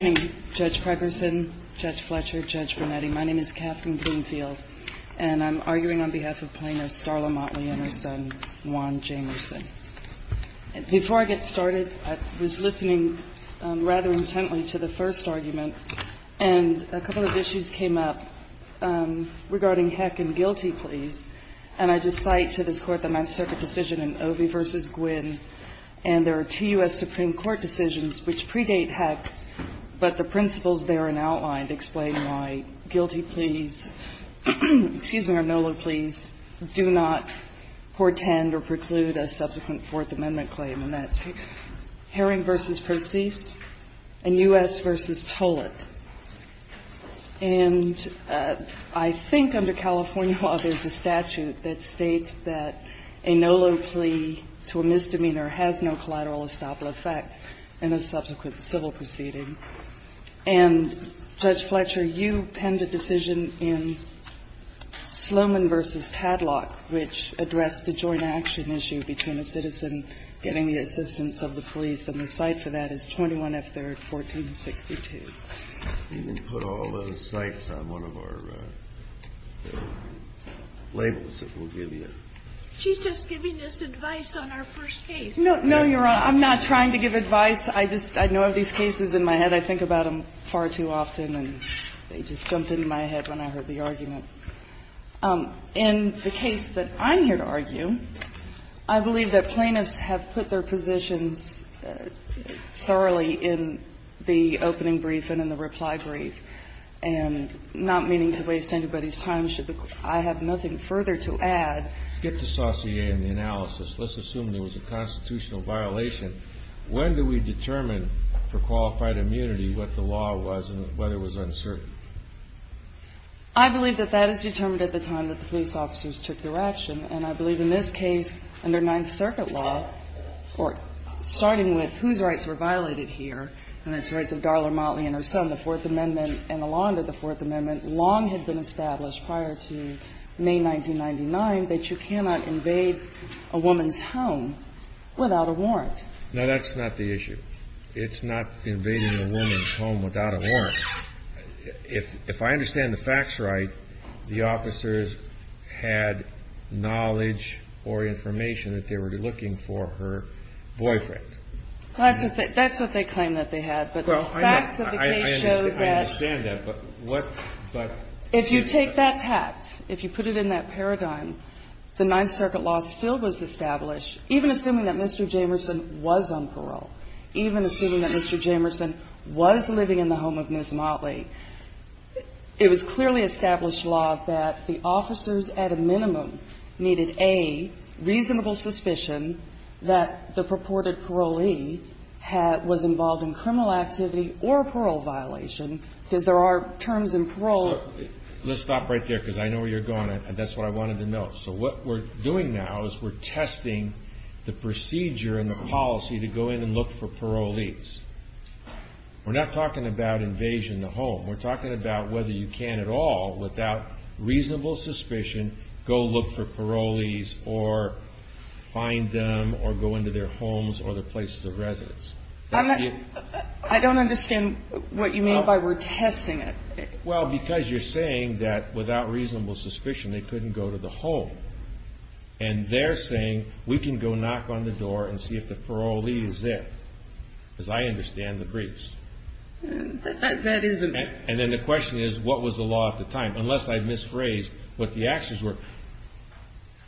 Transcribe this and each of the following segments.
Good morning, Judge Pregerson, Judge Fletcher, Judge Brunetti. My name is Katherine Bloomfield, and I'm arguing on behalf of plaintiff Starla Motley and her son, Juan Jamerson. Before I get started, I was listening rather intently to the first argument, and a couple of issues came up regarding Heck and Gilty, please. And I just cite to this Court the Mass Circuit decision in Ovi v. Gwynn, and there are two U.S. Supreme Court decisions which predate Heck, but the principles therein outlined explain why Gilty, please, excuse me, or Nolo, please, do not portend or preclude a subsequent Fourth Amendment claim. And that's Herring v. Perseus and U.S. v. Tollett. And I think under California law, there's a statute that states that a Nolo plea to a misdemeanor has no collateral estoppel effect in a subsequent civil proceeding. And, Judge Fletcher, you penned a decision in Sloman v. Tadlock, which addressed the joint action issue between a citizen getting the assistance of the police, and the cite for that is 21 F. 3rd, 1462. You can put all those cites on one of our labels that we'll give you. She's just giving us advice on our first case. No, no, Your Honor. I'm not trying to give advice. I just, I know of these cases in my head. I think about them far too often, and they just jumped into my head when I heard the argument. In the case that I'm here to argue, I believe that plaintiffs have put their positions thoroughly in the opening brief and in the reply brief, and not meaning to waste anybody's time should the Court – I have nothing further to add. Skip the saucier and the analysis. Let's assume there was a constitutional violation. When do we determine for qualified immunity what the law was and whether it was uncertain? I believe that that is determined at the time that the police officers took their action, and I believe in this case, under Ninth Circuit law, or starting with whose rights were violated here, and that's the rights of Darla Motley and her son, the Fourth Amendment, and the law under the Fourth Amendment, long had been established prior to May 1999 that you cannot invade a woman's home without a warrant. No, that's not the issue. It's not invading a woman's home without a warrant. If I understand the facts right, the officers had knowledge or information that they were looking for her boyfriend. That's what they claim that they had, but the facts of the case show that – I understand that, but what – If you take that fact, if you put it in that paradigm, the Ninth Circuit law still was established, even assuming that Mr. Jamerson was on parole, even assuming that Mr. Motley – it was clearly established law that the officers, at a minimum, needed a reasonable suspicion that the purported parolee was involved in criminal activity or a parole violation, because there are terms in parole – So let's stop right there, because I know where you're going, and that's what I wanted to note. So what we're doing now is we're testing the procedure and the policy to go in and look for parolees. We're not talking about invasion of the home. We're talking about whether you can at all, without reasonable suspicion, go look for parolees or find them or go into their homes or their places of residence. I don't understand what you mean by we're testing it. Well, because you're saying that without reasonable suspicion they couldn't go to the home, and they're saying we can go knock on the door and see if the parolee is there. Because I understand the briefs. That isn't – And then the question is, what was the law at the time? Unless I've misphrased what the actions were.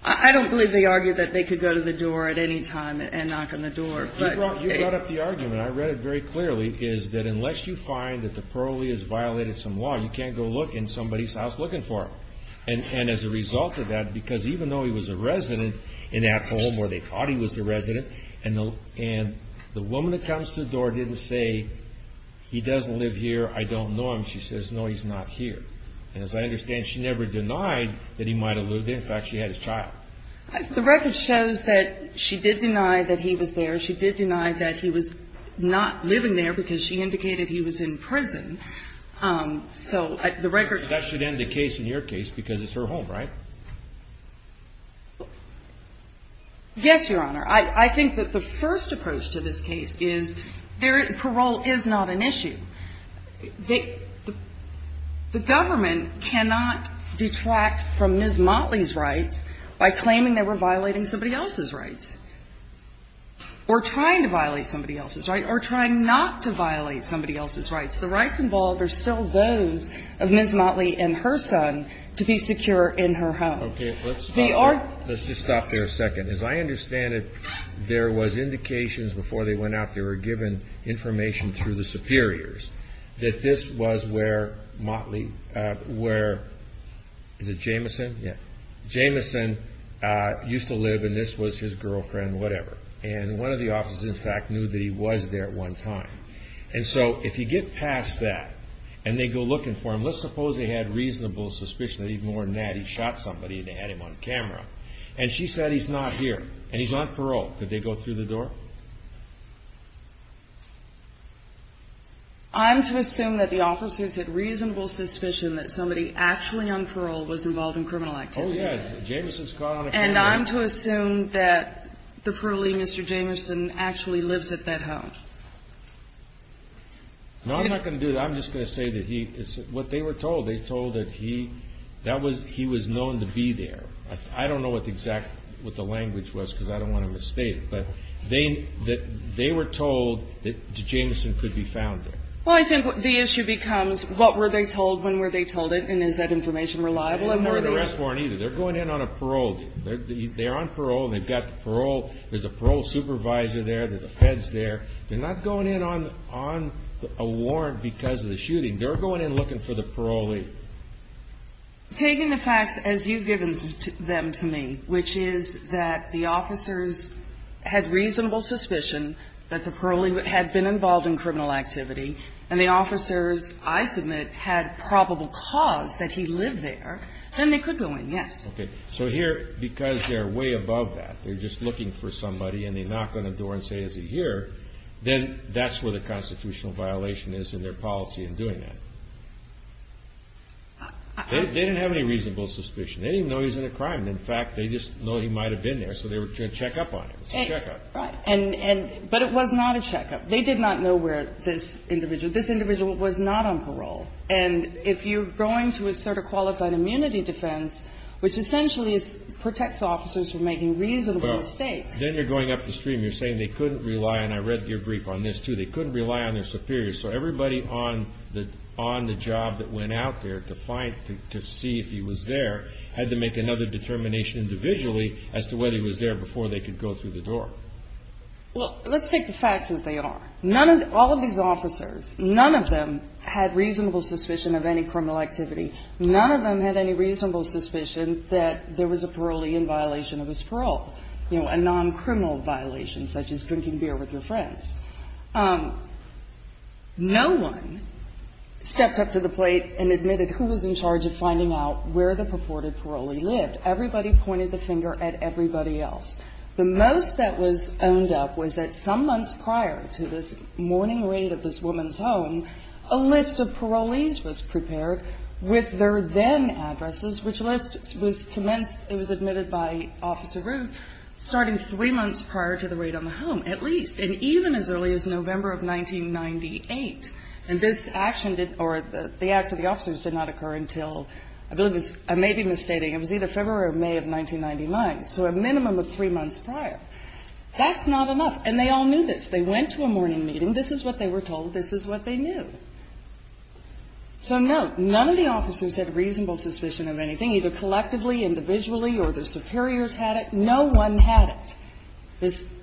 I don't believe they argued that they could go to the door at any time and knock on the door. You brought up the argument. I read it very clearly, is that unless you find that the parolee has violated some law, you can't go look in somebody's house looking for them. And as a result of that, because even though he was a resident in that home where they thought he was a resident, and the woman that comes to the door didn't say, he doesn't live here, I don't know him. She says, no, he's not here. And as I understand, she never denied that he might have lived there. In fact, she had his child. The record shows that she did deny that he was there. She did deny that he was not living there because she indicated he was in prison. So the record – That should end the case in your case because it's her home, right? Yes, Your Honor. I think that the first approach to this case is parole is not an issue. The government cannot detract from Ms. Motley's rights by claiming they were violating somebody else's rights or trying to violate somebody else's rights or trying not to violate somebody else's rights. The rights involved are still those of Ms. Motley and her son to be secure in her home. Okay. Let's stop there. Let's just stop there a second. As I understand it, there was indications before they went out, they were given information through the superiors, that this was where Motley, where – is it Jameson? Yeah. Jameson used to live, and this was his girlfriend, whatever. And one of the officers, in fact, knew that he was there at one time. And so if you get past that and they go looking for him, let's suppose they had reasonable suspicion that even more than that, he shot somebody and they had him on camera. And she said he's not here and he's on parole. Did they go through the door? I'm to assume that the officers had reasonable suspicion that somebody actually on parole was involved in criminal activity. Oh, yeah. Jameson's caught on a camera. And I'm to assume that the parolee, Mr. Jameson, actually lives at that home. No, I'm not going to do that. I'm just going to say that what they were told, they were told that he was known to be there. I don't know what the exact – what the language was because I don't want to mistake it. But they were told that Jameson could be found there. Well, I think the issue becomes what were they told, when were they told it, and is that information reliable? They didn't have an arrest warrant either. They're going in on a parole. They're on parole and they've got the parole. There's a parole supervisor there. There's the feds there. They're not going in on a warrant because of the shooting. They're going in looking for the parolee. Taking the facts as you've given them to me, which is that the officers had reasonable suspicion that the parolee had been involved in criminal activity, and the officers, I submit, had probable cause that he lived there, then they could go in, yes. Okay. So here, because they're way above that, they're just looking for somebody and they knock on the door and say, is he here? Then that's where the constitutional violation is in their policy in doing that. They didn't have any reasonable suspicion. They didn't even know he was in a crime. In fact, they just know he might have been there, so they were going to check up on him. It was a checkup. Right. But it was not a checkup. They did not know where this individual – this individual was not on parole. And if you're going to assert a qualified immunity defense, which essentially protects officers from making reasonable mistakes – Well, then you're going up the stream. You're saying they couldn't rely – and I read your brief on this, too – they couldn't rely on their superiors. So everybody on the job that went out there to find – to see if he was there had to make another determination individually as to whether he was there before they could go through the door. Well, let's take the facts as they are. None of – all of these officers, none of them had reasonable suspicion of any criminal activity. None of them had any reasonable suspicion that there was a parolee in violation of his parole, you know, a non-criminal violation such as drinking beer with your friends. No one stepped up to the plate and admitted who was in charge of finding out where the purported parolee lived. Everybody pointed the finger at everybody else. The most that was owned up was that some months prior to this morning raid of this woman's home, a list of parolees was prepared with their then-addresses, which list was commenced – it was admitted by Officer Rue starting three months prior to the raid on the home, at least, and even as early as November of 1998. And this action did – or the acts of the officers did not occur until – I believe it was – I may be misstating. It was either February or May of 1999. So a minimum of three months prior. That's not enough. And they all knew this. They went to a morning meeting. This is what they were told. This is what they knew. So, no, none of the officers had reasonable suspicion of anything, either collectively, individually, or their superiors had it. No one had it.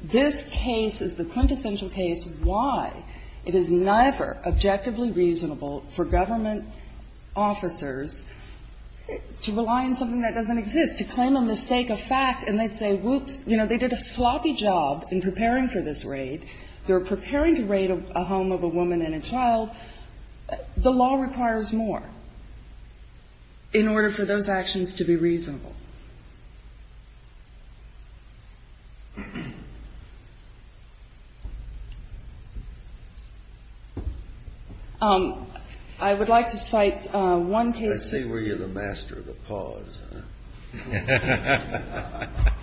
This case is the quintessential case why it is neither objectively reasonable for government officers to rely on something that doesn't exist, to claim a mistake or fact, and they say, whoops, you know, they did a sloppy job in preparing for this raid. They were preparing to raid a home of a woman and a child. The law requires more in order for those actions to be reasonable. I would like to cite one case. Let's see where you're the master of the pause.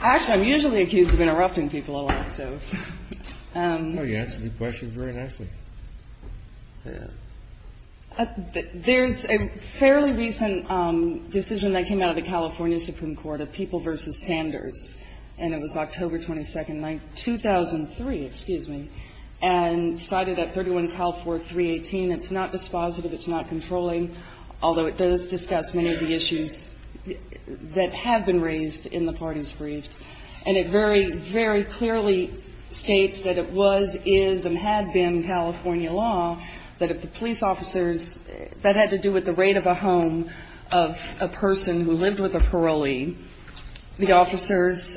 Actually, I'm usually accused of interrupting people a lot, so. No, you answer these questions very nicely. There's a fairly recent decision that came out of the California Supreme Court of People v. Sanders, and it was October 22nd, 2003, excuse me, and cited at 31 Cal 4, 318. It's not dispositive. It's not controlling, although it does discuss many of the issues that have been raised in the party's briefs, and it very, very clearly states that it was, is, and had been California law that if the police officers, that had to do with the raid of a home of a person who lived with a parolee, the officers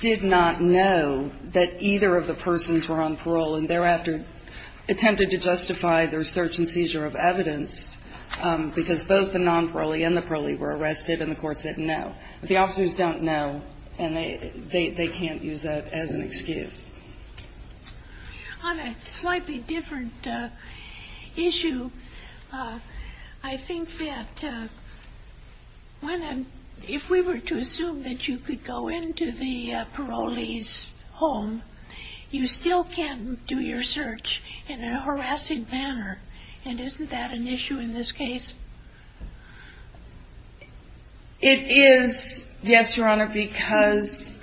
did not know that either of the persons were on parole and thereafter attempted to justify their search and seizure of evidence because both the non-parolee and the parolee were arrested, and the court said no. But the officers don't know, and they can't use that as an excuse. On a slightly different issue, I think that if we were to assume that you could go into the parolee's home, you still can't do your search in a harassing manner, and isn't that an issue in this case? It is, yes, Your Honor, because...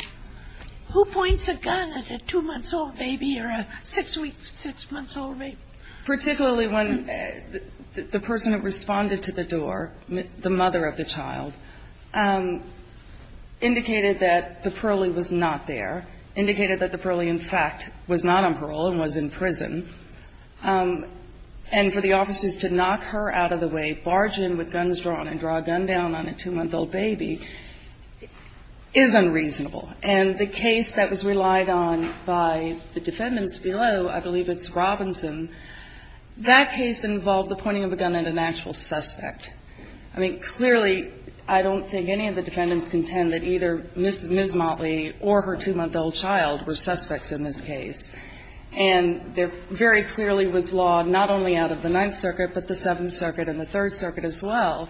Who points a gun at a 2-month-old baby or a 6-week, 6-month-old baby? Particularly when the person who responded to the door, the mother of the child, indicated that the parolee was not there, indicated that the parolee, in fact, was not on parole and was in prison, and for the officers to knock her out of the way, barge in with guns drawn, and draw a gun down on a 2-month-old baby is unreasonable. And the case that was relied on by the defendants below, I believe it's Robinson, that case involved the pointing of a gun at an actual suspect. I mean, clearly, I don't think any of the defendants contend that either Ms. Motley or her 2-month-old child were suspects in this case. And there very clearly was law not only out of the Ninth Circuit, but the Seventh Circuit and the Third Circuit as well,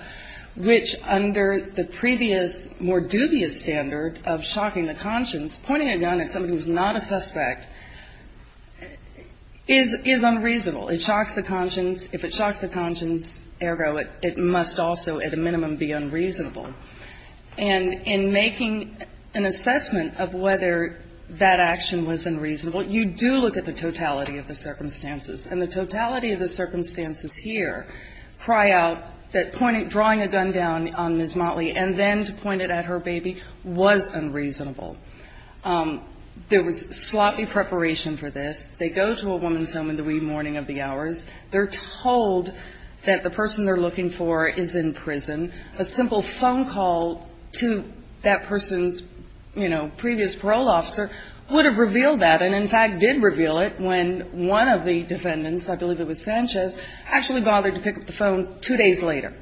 which under the previous, more dubious standard of shocking the conscience, pointing a gun at somebody who's not a suspect is unreasonable. It shocks the conscience. If it shocks the conscience, ergo, it must also, at a minimum, be unreasonable. And in making an assessment of whether that action was unreasonable, you do look at the totality of the circumstances. And the totality of the circumstances here cry out that drawing a gun down on Ms. Motley and then to point it at her baby was unreasonable. There was sloppy preparation for this. They go to a woman's home in the wee morning of the hours. They're told that the person they're looking for is in prison. A simple phone call to that person's, you know, previous parole officer would have revealed that and, in fact, did reveal it when one of the defendants, I believe it was Sanchez, actually bothered to pick up the phone two days later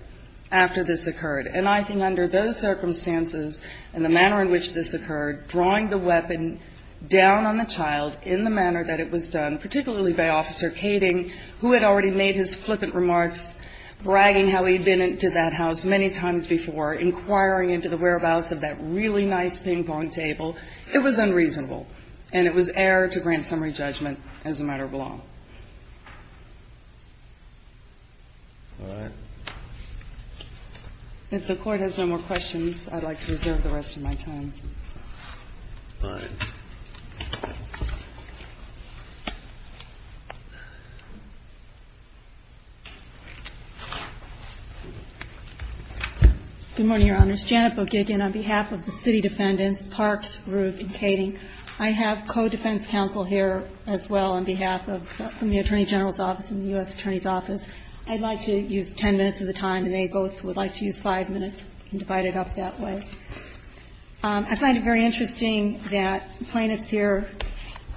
after this occurred. And I think under those circumstances and the manner in which this occurred, drawing the weapon down on the child in the manner that it was done, particularly by Officer Kading, who had already made his flippant remarks bragging how he'd been into that house many times before, inquiring into the whereabouts of that really nice ping-pong table, it was unreasonable. And it was error to grant summary judgment as a matter of law. All right. If the Court has no more questions, I'd like to reserve the rest of my time. All right. Good morning, Your Honors. Janet Bogigian on behalf of the City Defendants, Parks, Roof and Kading. I have co-defense counsel here as well on behalf of the Attorney General's office and the U.S. Attorney's office. I'd like to use 10 minutes of the time, and they both would like to use 5 minutes and divide it up that way. I find it very interesting that plaintiffs here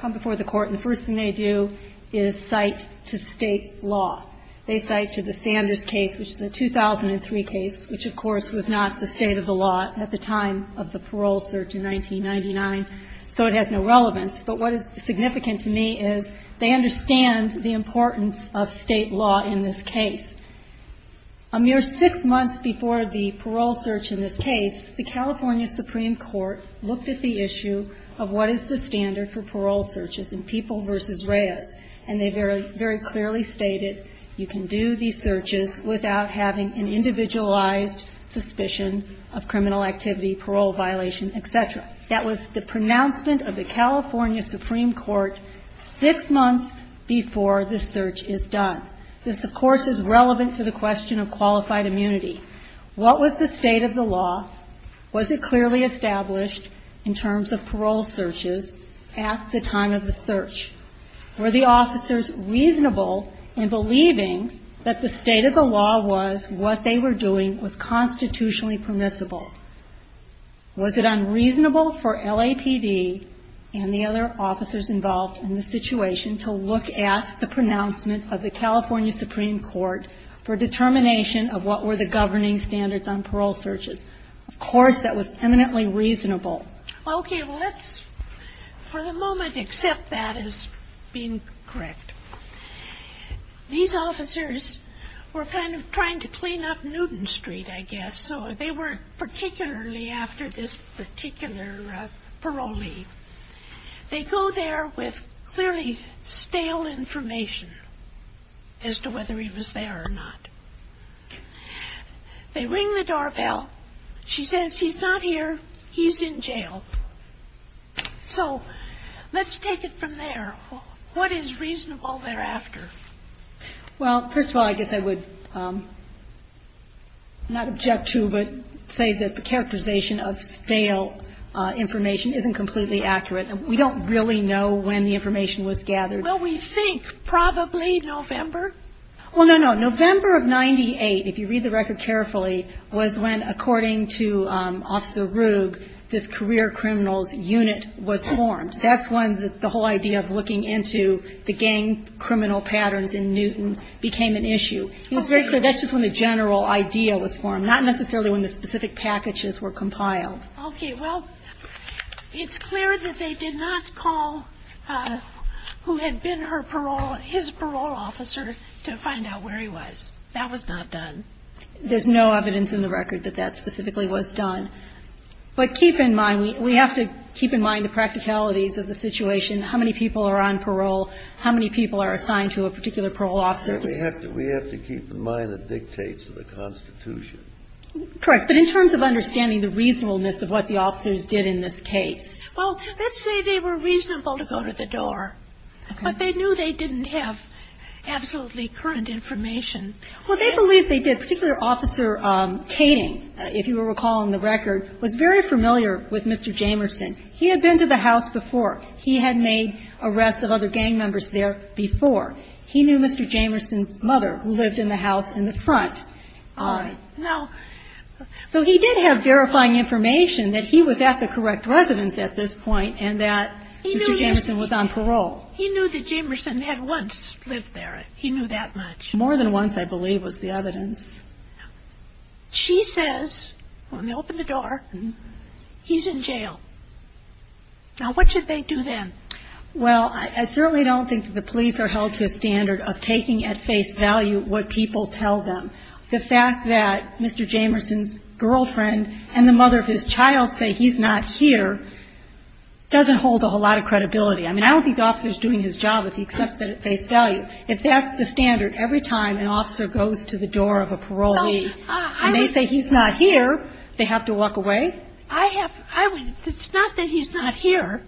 come before the Court, and the first thing they do is cite to State law. They cite to the Sanders case, which is a 2003 case, which, of course, was not the State of the law at the time of the parole search in 1999. So it has no relevance. But what is significant to me is they understand the importance of State law in this case. A mere 6 months before the parole search in this case, the California Supreme Court looked at the issue of what is the standard for parole searches in People v. Reyes. And they very clearly stated you can do these searches without having an individualized suspicion of criminal activity, parole violation, et cetera. That was the pronouncement of the California Supreme Court 6 months before the search is done. This, of course, is relevant to the question of qualified immunity. What was the State of the law? Was it clearly established in terms of parole searches at the time of the search? Were the officers reasonable in believing that the State of the law was what they were doing was constitutionally permissible? Was it unreasonable for LAPD and the other officers involved in the situation to look at the pronouncement of the California Supreme Court for determination of what were the governing standards on parole searches? Of course, that was eminently reasonable. Okay. Well, let's for the moment accept that as being correct. These officers were kind of trying to clean up Newton Street, I guess. So they weren't particularly after this particular parolee. They go there with clearly stale information as to whether he was there or not. They ring the doorbell. She says, he's not here. He's in jail. So let's take it from there. What is reasonable thereafter? Well, first of all, I guess I would not object to but say that the characterization of stale information isn't completely accurate. We don't really know when the information was gathered. Well, we think probably November. Well, no, no. November of 98, if you read the record carefully, was when, according to Officer Ruge, this career criminals unit was formed. That's when the whole idea of looking into the gang criminal patterns in Newton became an issue. It's very clear that's just when the general idea was formed, not necessarily when the specific packages were compiled. Okay. Well, it's clear that they did not call who had been her parole, his parole officer to find out where he was. That was not done. There's no evidence in the record that that specifically was done. But keep in mind, we have to keep in mind the practicalities of the situation, how many people are on parole, how many people are assigned to a particular parole officer. We have to keep in mind the dictates of the Constitution. Correct. But in terms of understanding the reasonableness of what the officers did in this case. Well, let's say they were reasonable to go to the door. Okay. But they knew they didn't have absolutely current information. Well, they believe they did. Particular Officer Kading, if you will recall in the record, was very familiar with Mr. Jamerson. He had been to the house before. He had made arrests of other gang members there before. He knew Mr. Jamerson's mother, who lived in the house in the front. All right. Now so he did have verifying information that he was at the correct residence at this point and that Mr. Jamerson was on parole. He knew that Jamerson had once lived there. He knew that much. More than once, I believe, was the evidence. She says, when they open the door, he's in jail. Now, what should they do then? Well, I certainly don't think that the police are held to a standard of taking at face value what people tell them. The fact that Mr. Jamerson's girlfriend and the mother of his child say he's not here doesn't hold a whole lot of credibility. I mean, I don't think the officer is doing his job if he accepts that at face value. If that's the standard, every time an officer goes to the door of a parolee and they say he's not here, they have to walk away? It's not that he's not here.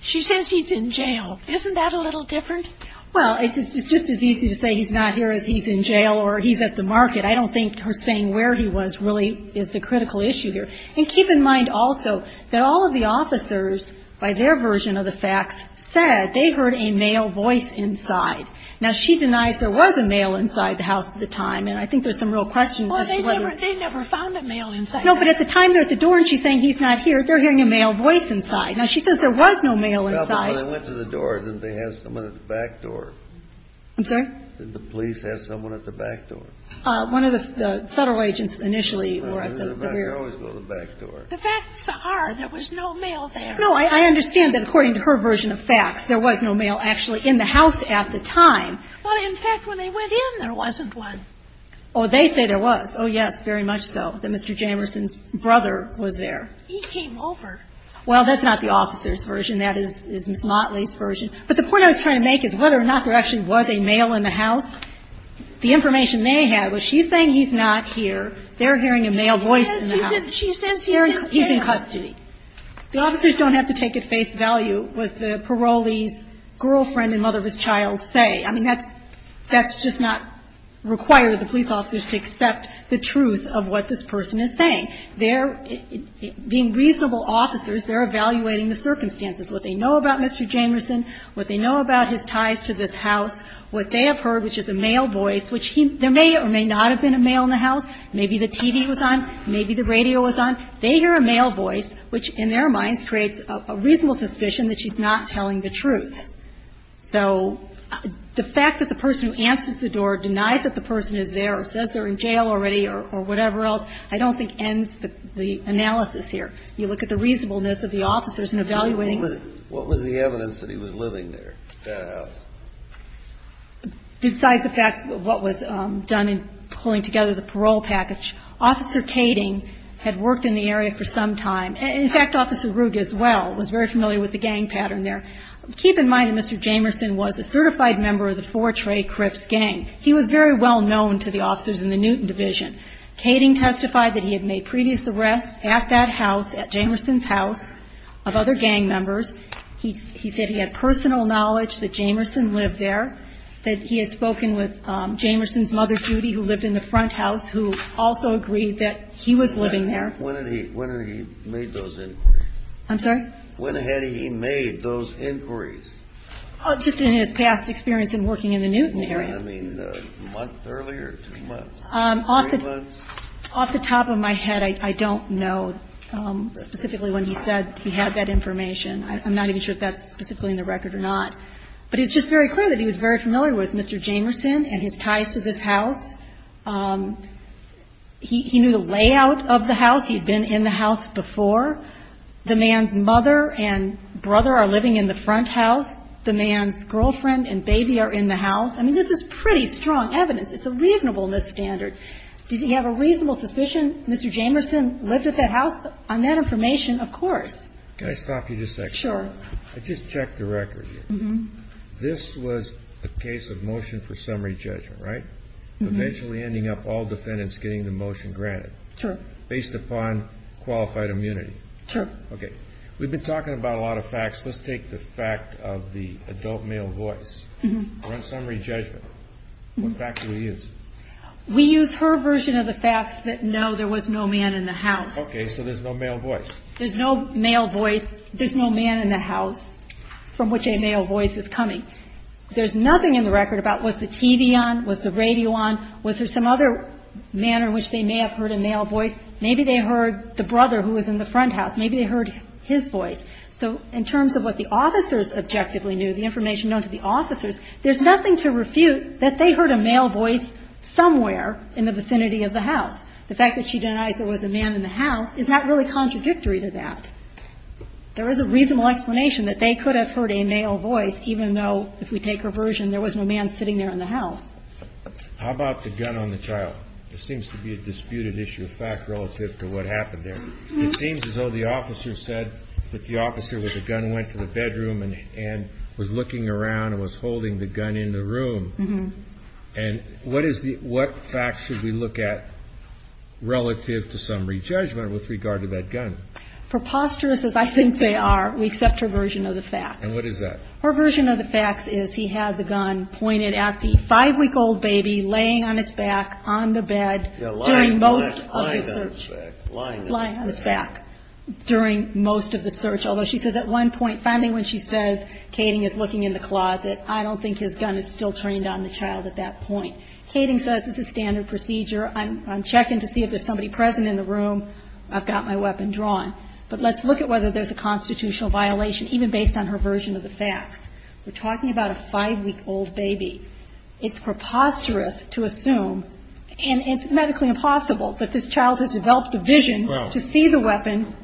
She says he's in jail. Isn't that a little different? Well, it's just as easy to say he's not here as he's in jail or he's at the market. I don't think her saying where he was really is the critical issue here. And keep in mind also that all of the officers, by their version of the facts, said they heard a male voice inside. Now, she denies there was a male inside the house at the time, and I think there's some real questions as to whether or not. Well, they never found a male inside. No, but at the time they're at the door and she's saying he's not here, they're hearing a male voice inside. Now, she says there was no male inside. Well, but when they went to the door, didn't they have someone at the back door? I'm sorry? Did the police have someone at the back door? One of the Federal agents initially were at the rear. It doesn't matter. They always go to the back door. The facts are there was no male there. No, I understand that according to her version of facts, there was no male actually in the house at the time. Well, in fact, when they went in, there wasn't one. Oh, they say there was. Oh, yes, very much so, that Mr. Jamerson's brother was there. He came over. Well, that's not the officer's version. That is Ms. Motley's version. But the point I was trying to make is whether or not there actually was a male in the house. The information they had was she's saying he's not here, they're hearing a male voice in the house. She says he's in jail. He's in custody. The officers don't have to take at face value what the parolee's girlfriend and mother of his child say. I mean, that's just not required of the police officers to accept the truth of what this person is saying. They're, being reasonable officers, they're evaluating the circumstances, what they know about Mr. Jamerson, what they know about his ties to this house, what they have heard, which is a male voice, which there may or may not have been a male in the house. Maybe the TV was on. Maybe the radio was on. They hear a male voice, which in their minds creates a reasonable suspicion that she's not telling the truth. So the fact that the person who answers the door denies that the person is there or says they're in jail already or whatever else, I don't think ends the analysis here. You look at the reasonableness of the officers in evaluating. Kennedy. What was the evidence that he was living there, in that house? Besides the fact what was done in pulling together the parole package, Officer Kading had worked in the area for some time. In fact, Officer Ruge as well was very familiar with the gang pattern there. Keep in mind that Mr. Jamerson was a certified member of the Fortray Crips gang. He was very well known to the officers in the Newton Division. Kading testified that he had made previous arrests at that house, at Jamerson's house, of other gang members. He said he had personal knowledge that Jamerson lived there, that he had spoken with Jamerson's mother, Judy, who lived in the front house, who also agreed that he was living there. When did he make those inquiries? I'm sorry? When had he made those inquiries? Just in his past experience in working in the Newton area. I mean, a month earlier, two months, three months? Off the top of my head, I don't know specifically when he said he had that information. I'm not even sure if that's specifically in the record or not. But it's just very clear that he was very familiar with Mr. Jamerson and his ties to this house. He knew the layout of the house. He had been in the house before. The man's mother and brother are living in the front house. The man's girlfriend and baby are in the house. I mean, this is pretty strong evidence. It's a reasonableness standard. Did he have a reasonable suspicion Mr. Jamerson lived at that house? On that information, of course. Can I stop you just a second? Sure. I just checked the record. This was a case of motion for summary judgment, right? Eventually ending up all defendants getting the motion granted. Sure. Based upon qualified immunity. Sure. Okay. We've been talking about a lot of facts. Let's take the fact of the adult male voice. On summary judgment, what fact do we use? We use her version of the fact that no, there was no man in the house. Okay. So there's no male voice. There's no male voice. There's no man in the house from which a male voice is coming. There's nothing in the record about was the TV on? Was the radio on? Was there some other manner in which they may have heard a male voice? Maybe they heard the brother who was in the front house. Maybe they heard his voice. So in terms of what the officers objectively knew, the information known to the officers, there's nothing to refute that they heard a male voice somewhere in the vicinity of the house. The fact that she denies there was a man in the house is not really contradictory to that. There is a reasonable explanation that they could have heard a male voice even though, if we take her version, there was no man sitting there in the house. How about the gun on the child? This seems to be a disputed issue of fact relative to what happened there. It seems as though the officer said that the officer with the gun went to the bedroom and was looking around and was holding the gun in the room. And what facts should we look at relative to some re-judgment with regard to that gun? Preposterous as I think they are, we accept her version of the facts. And what is that? Her version of the facts is he had the gun pointed at the five-week-old baby laying on its back on the bed during most of the search. Lying on its back. Lying on its back during most of the search, although she says at one point, and finally when she says Kading is looking in the closet, I don't think his gun is still turned on the child at that point. Kading says this is standard procedure. I'm checking to see if there's somebody present in the room. I've got my weapon drawn. But let's look at whether there's a constitutional violation even based on her version of the facts. We're talking about a five-week-old baby. It's preposterous to assume, and it's medically impossible, that this child has developed a vision to see the weapon,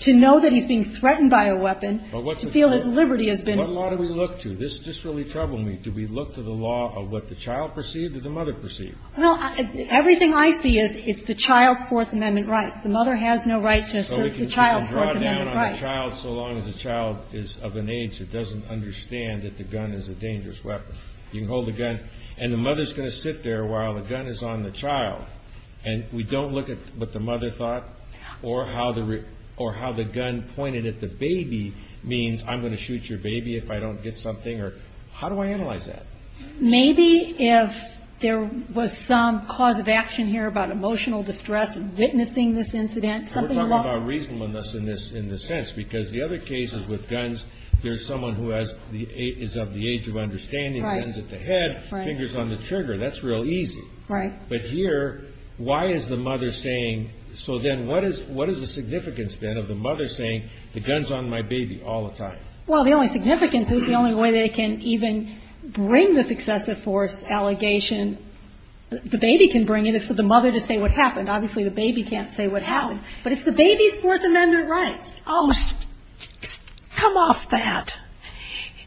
to know that he's being threatened by a weapon, to feel his liberty has been... What law do we look to? This really troubled me. Do we look to the law of what the child perceived or the mother perceived? Well, everything I see is the child's Fourth Amendment rights. The mother has no right to assert the child's Fourth Amendment rights. So we can draw down on the child so long as the child is of an age that doesn't understand that the gun is a dangerous weapon. You can hold the gun, and the mother's going to sit there while the gun is on the child. And we don't look at what the mother thought or how the gun pointed at the baby means, I'm going to shoot your baby if I don't get something? Or how do I analyze that? Maybe if there was some cause of action here about emotional distress, witnessing this incident, something along... We're talking about reasonableness in this sense because the other cases with guns, there's someone who is of the age of understanding, hands at the head, fingers on the trigger. That's real easy. Right. But here, why is the mother saying... So then what is the significance then of the mother saying the gun's on my baby all the time? Well, the only significance is the only way they can even bring this excessive force allegation, the baby can bring it, is for the mother to say what happened. Obviously, the baby can't say what happened. But if the baby's Fourth Amendment rights... Oh, come off that.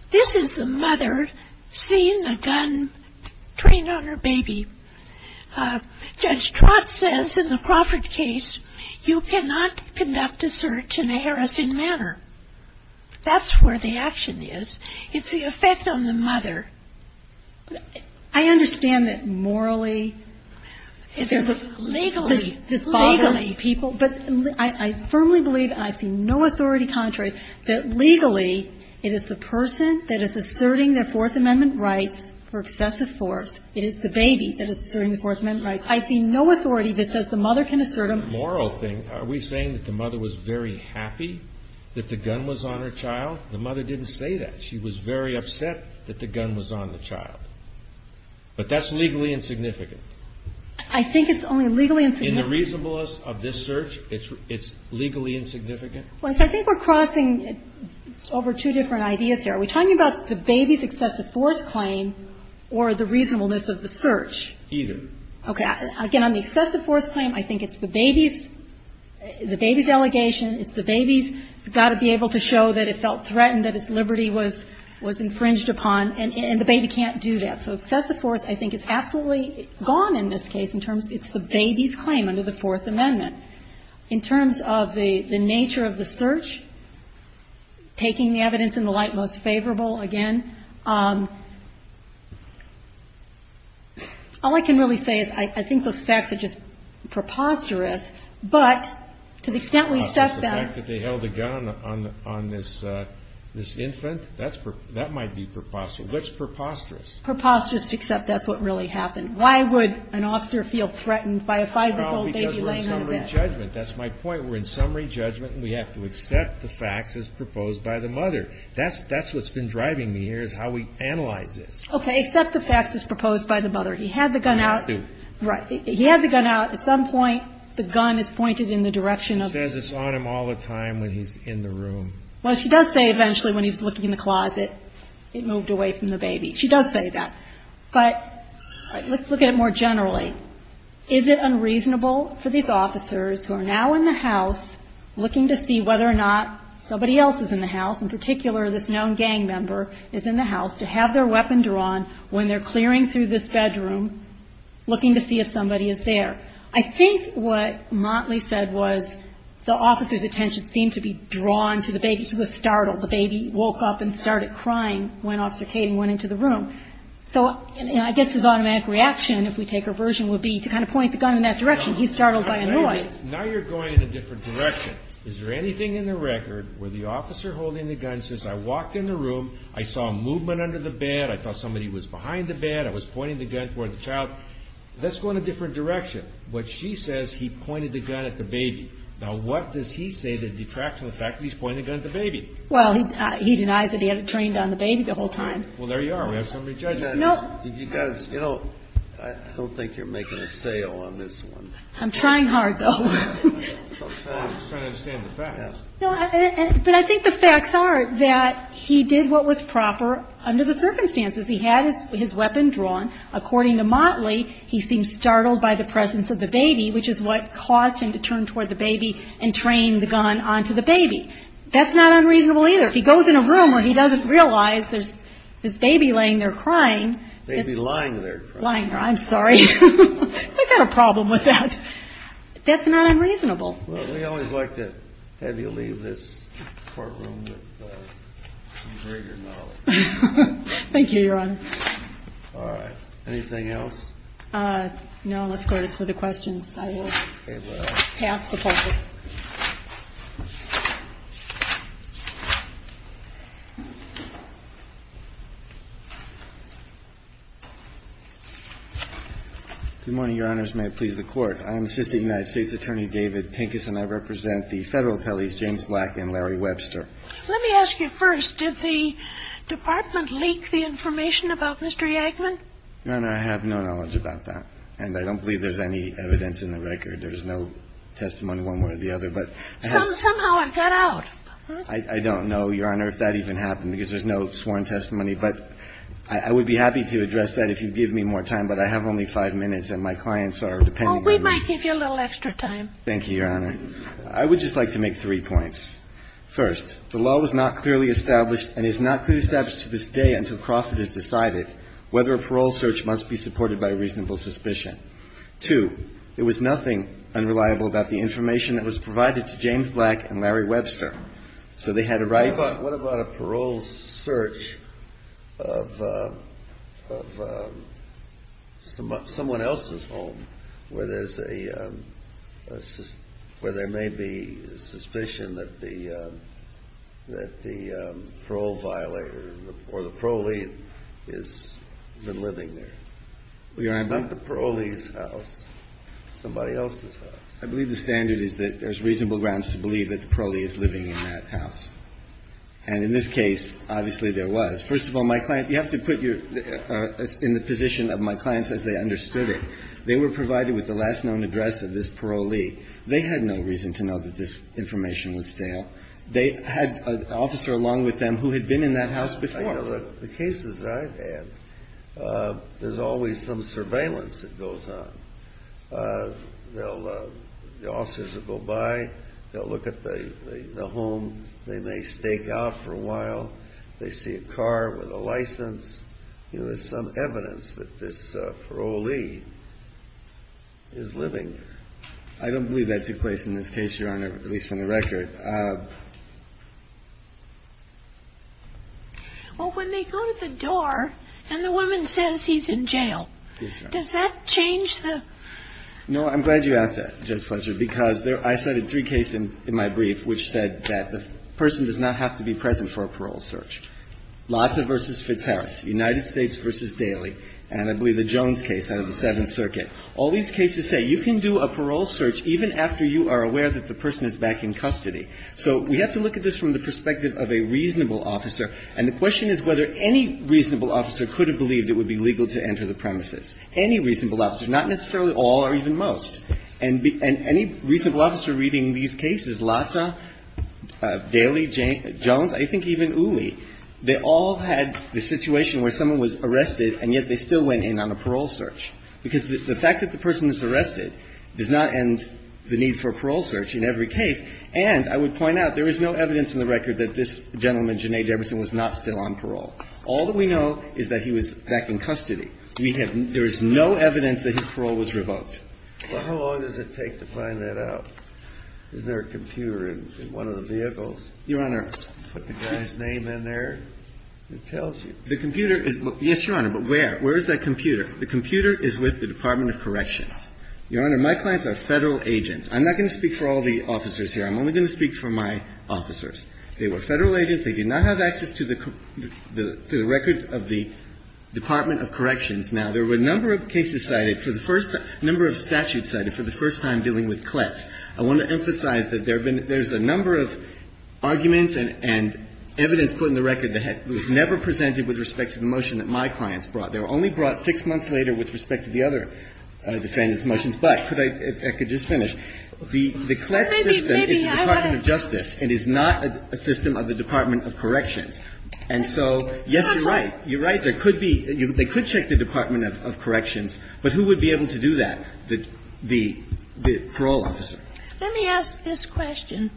This is the mother seeing a gun trained on her baby. Judge Trott says in the Crawford case, you cannot conduct a search in a harassing manner. That's where the action is. It's the effect on the mother. I understand that morally... Legally, this bothers... Legally, people. But I firmly believe, and I see no authority contrary, that legally it is the person that is asserting their Fourth Amendment rights for excessive force. It is the baby that is asserting the Fourth Amendment rights. I see no authority that says the mother can assert them. The moral thing, are we saying that the mother was very happy that the gun was on her child? The mother didn't say that. She was very upset that the gun was on the child. But that's legally insignificant. I think it's only legally insignificant. In the reasonableness of this search, it's legally insignificant? Well, I think we're crossing over two different ideas here. Are we talking about the baby's excessive force claim or the reasonableness of the search? Either. Okay. Again, on the excessive force claim, I think it's the baby's delegation, it's the baby's got to be able to show that it felt threatened, that its liberty was infringed upon, and the baby can't do that. So excessive force, I think, is absolutely gone in this case in terms of it's the baby's claim under the Fourth Amendment. In terms of the nature of the search, taking the evidence in the light most favorable again, all I can really say is I think those facts are just preposterous, but to the extent we've sussed out the fact that they held a gun on this infant, that might be preposterous. What's preposterous? Preposterous to accept that's what really happened. Why would an officer feel threatened by a 5-year-old baby laying on a bed? Well, because we're in summary judgment. That's my point. We're in summary judgment, and we have to accept the facts as proposed by the mother. That's what's been driving me here is how we analyze this. Okay. Accept the facts as proposed by the mother. He had the gun out. I had to. Right. He had the gun out. At some point, the gun is pointed in the direction of the mother. She says it's on him all the time when he's in the room. Well, she does say eventually when he was looking in the closet, it moved away from the baby. She does say that. But let's look at it more generally. Is it unreasonable for these officers who are now in the house looking to see whether or not somebody else is in the house, in particular this known gang member is in the house, to have their weapon drawn when they're clearing through this bedroom looking to see if somebody is there? I think what Motley said was the officer's attention seemed to be drawn to the baby, to the startle. The baby woke up and started crying when Officer Caden went into the room. So I guess his automatic reaction, if we take her version, would be to kind of point the gun in that direction. He's startled by a noise. Now you're going in a different direction. Is there anything in the record where the officer holding the gun says, I walked in the room, I saw movement under the bed, I thought somebody was behind the bed, I was pointing the gun toward the child? Let's go in a different direction. What she says, he pointed the gun at the baby. Now what does he say that detracts from the fact that he's pointing the gun at the baby? Well, he denies that he had it trained on the baby the whole time. Well, there you are. We have somebody judge that. You know, I don't think you're making a sale on this one. I'm trying hard, though. I'm just trying to understand the facts. But I think the facts are that he did what was proper under the circumstances. He had his weapon drawn. According to Motley, he seemed startled by the presence of the baby, which is what caused him to turn toward the baby and train the gun onto the baby. That's not unreasonable either. If he goes in a room where he doesn't realize there's this baby laying there crying. Baby lying there crying. Lying there. I'm sorry. I've got a problem with that. That's not unreasonable. Well, we always like to have you leave this courtroom with some greater knowledge. Thank you, Your Honor. All right. Anything else? No. Let's go to the questions. I will pass the ball. Good morning, Your Honors. May it please the Court. I am Assistant United States Attorney David Pincus, and I represent the Federal Appellees James Black and Larry Webster. Let me ask you first. Did the Department leak the information about Mr. Yankman? Your Honor, I have no knowledge about that. And I don't believe there's any evidence in the record. There's no testimony one way or the other. Somehow it got out. I don't know, Your Honor, if that even happened, because there's no sworn testimony. But I would be happy to address that if you'd give me more time, but I have only five minutes, and my clients are depending on me. Oh, we might give you a little extra time. Thank you, Your Honor. I would just like to make three points. First, the law was not clearly established and is not clearly established to this day until profit is decided whether a parole search must be supported by reasonable suspicion. Two, there was nothing unreliable about the information that was provided to James Black and Larry Webster. So they had to write to us. What about a parole search of someone else's home where there's a – where there may be suspicion that the parole violator or the parolee has been living there? Not the parolee's house. Somebody else's house. I believe the standard is that there's reasonable grounds to believe that the parolee is living in that house. And in this case, obviously there was. First of all, my client – you have to put your – in the position of my clients as they understood it. They were provided with the last known address of this parolee. They had no reason to know that this information was stale. They had an officer along with them who had been in that house before. I know that the cases that I've had, there's always some surveillance that goes on. They'll – the officers will go by. They'll look at the home. They may stake out for a while. They see a car with a license. You know, there's some evidence that this parolee is living there. I don't believe that took place in this case, Your Honor, at least from the record. Well, when they go to the door and the woman says he's in jail, does that change the – No. I'm glad you asked that, Judge Fletcher, because I cited three cases in my brief which said that the person does not have to be present for a parole search. Lassa v. Fitzharris, United States v. Daly, and I believe the Jones case out of the Seventh Circuit. All these cases say you can do a parole search even after you are aware that the person is back in custody. So we have to look at this from the perspective of a reasonable officer. And the question is whether any reasonable officer could have believed it would be legal to enter the premises. Any reasonable officer, not necessarily all or even most. And any reasonable officer reading these cases, Lassa, Daly, Jones, I think even Uli, they all had the situation where someone was arrested and yet they still went in on a parole search, because the fact that the person is arrested does not end the need for a parole search in every case. And I would point out, there is no evidence in the record that this gentleman, Jenea Deberson, was not still on parole. All that we know is that he was back in custody. We have no – there is no evidence that his parole was revoked. Kennedy. But how long does it take to find that out? Is there a computer in one of the vehicles? Your Honor. Put the guy's name in there? It tells you. The computer is – yes, Your Honor, but where? Where is that computer? The computer is with the Department of Corrections. Your Honor, my clients are Federal agents. I'm not going to speak for all the officers here. I'm only going to speak for my officers. They were Federal agents. They did not have access to the records of the Department of Corrections. Now, there were a number of cases cited for the first – a number of statutes cited for the first time dealing with Kletz. I want to emphasize that there have been – there's a number of arguments and evidence put in the record that was never presented with respect to the motion that my clients brought. They were only brought six months later with respect to the other defendants' motions. But could I – I could just finish. The Kletz system is the Department of Justice. It is not a system of the Department of Corrections. And so, yes, you're right. You're right. There could be – they could check the Department of Corrections. But who would be able to do that? The parole officer. Let me ask this question.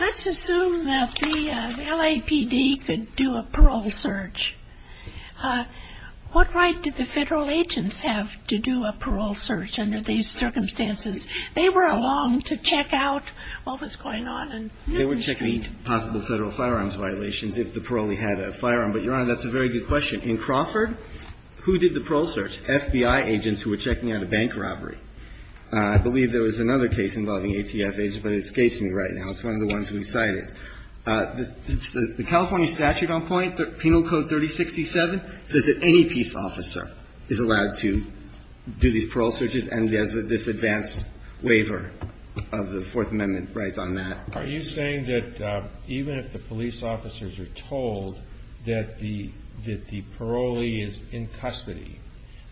Let's assume that the LAPD could do a parole search. What right did the Federal agents have to do a parole search under these circumstances? They were along to check out what was going on in the street. They were checking possible Federal firearms violations if the parolee had a firearm. But, Your Honor, that's a very good question. In Crawford, who did the parole search? FBI agents who were checking out a bank robbery. I believe there was another case involving ATF agents, but it escapes me right now. It's one of the ones we cited. The California statute on point, Penal Code 3067, says that any peace officer is allowed to do these parole searches, and there's this advanced waiver of the Fourth Amendment rights on that. Are you saying that even if the police officers are told that the parolee is in custody,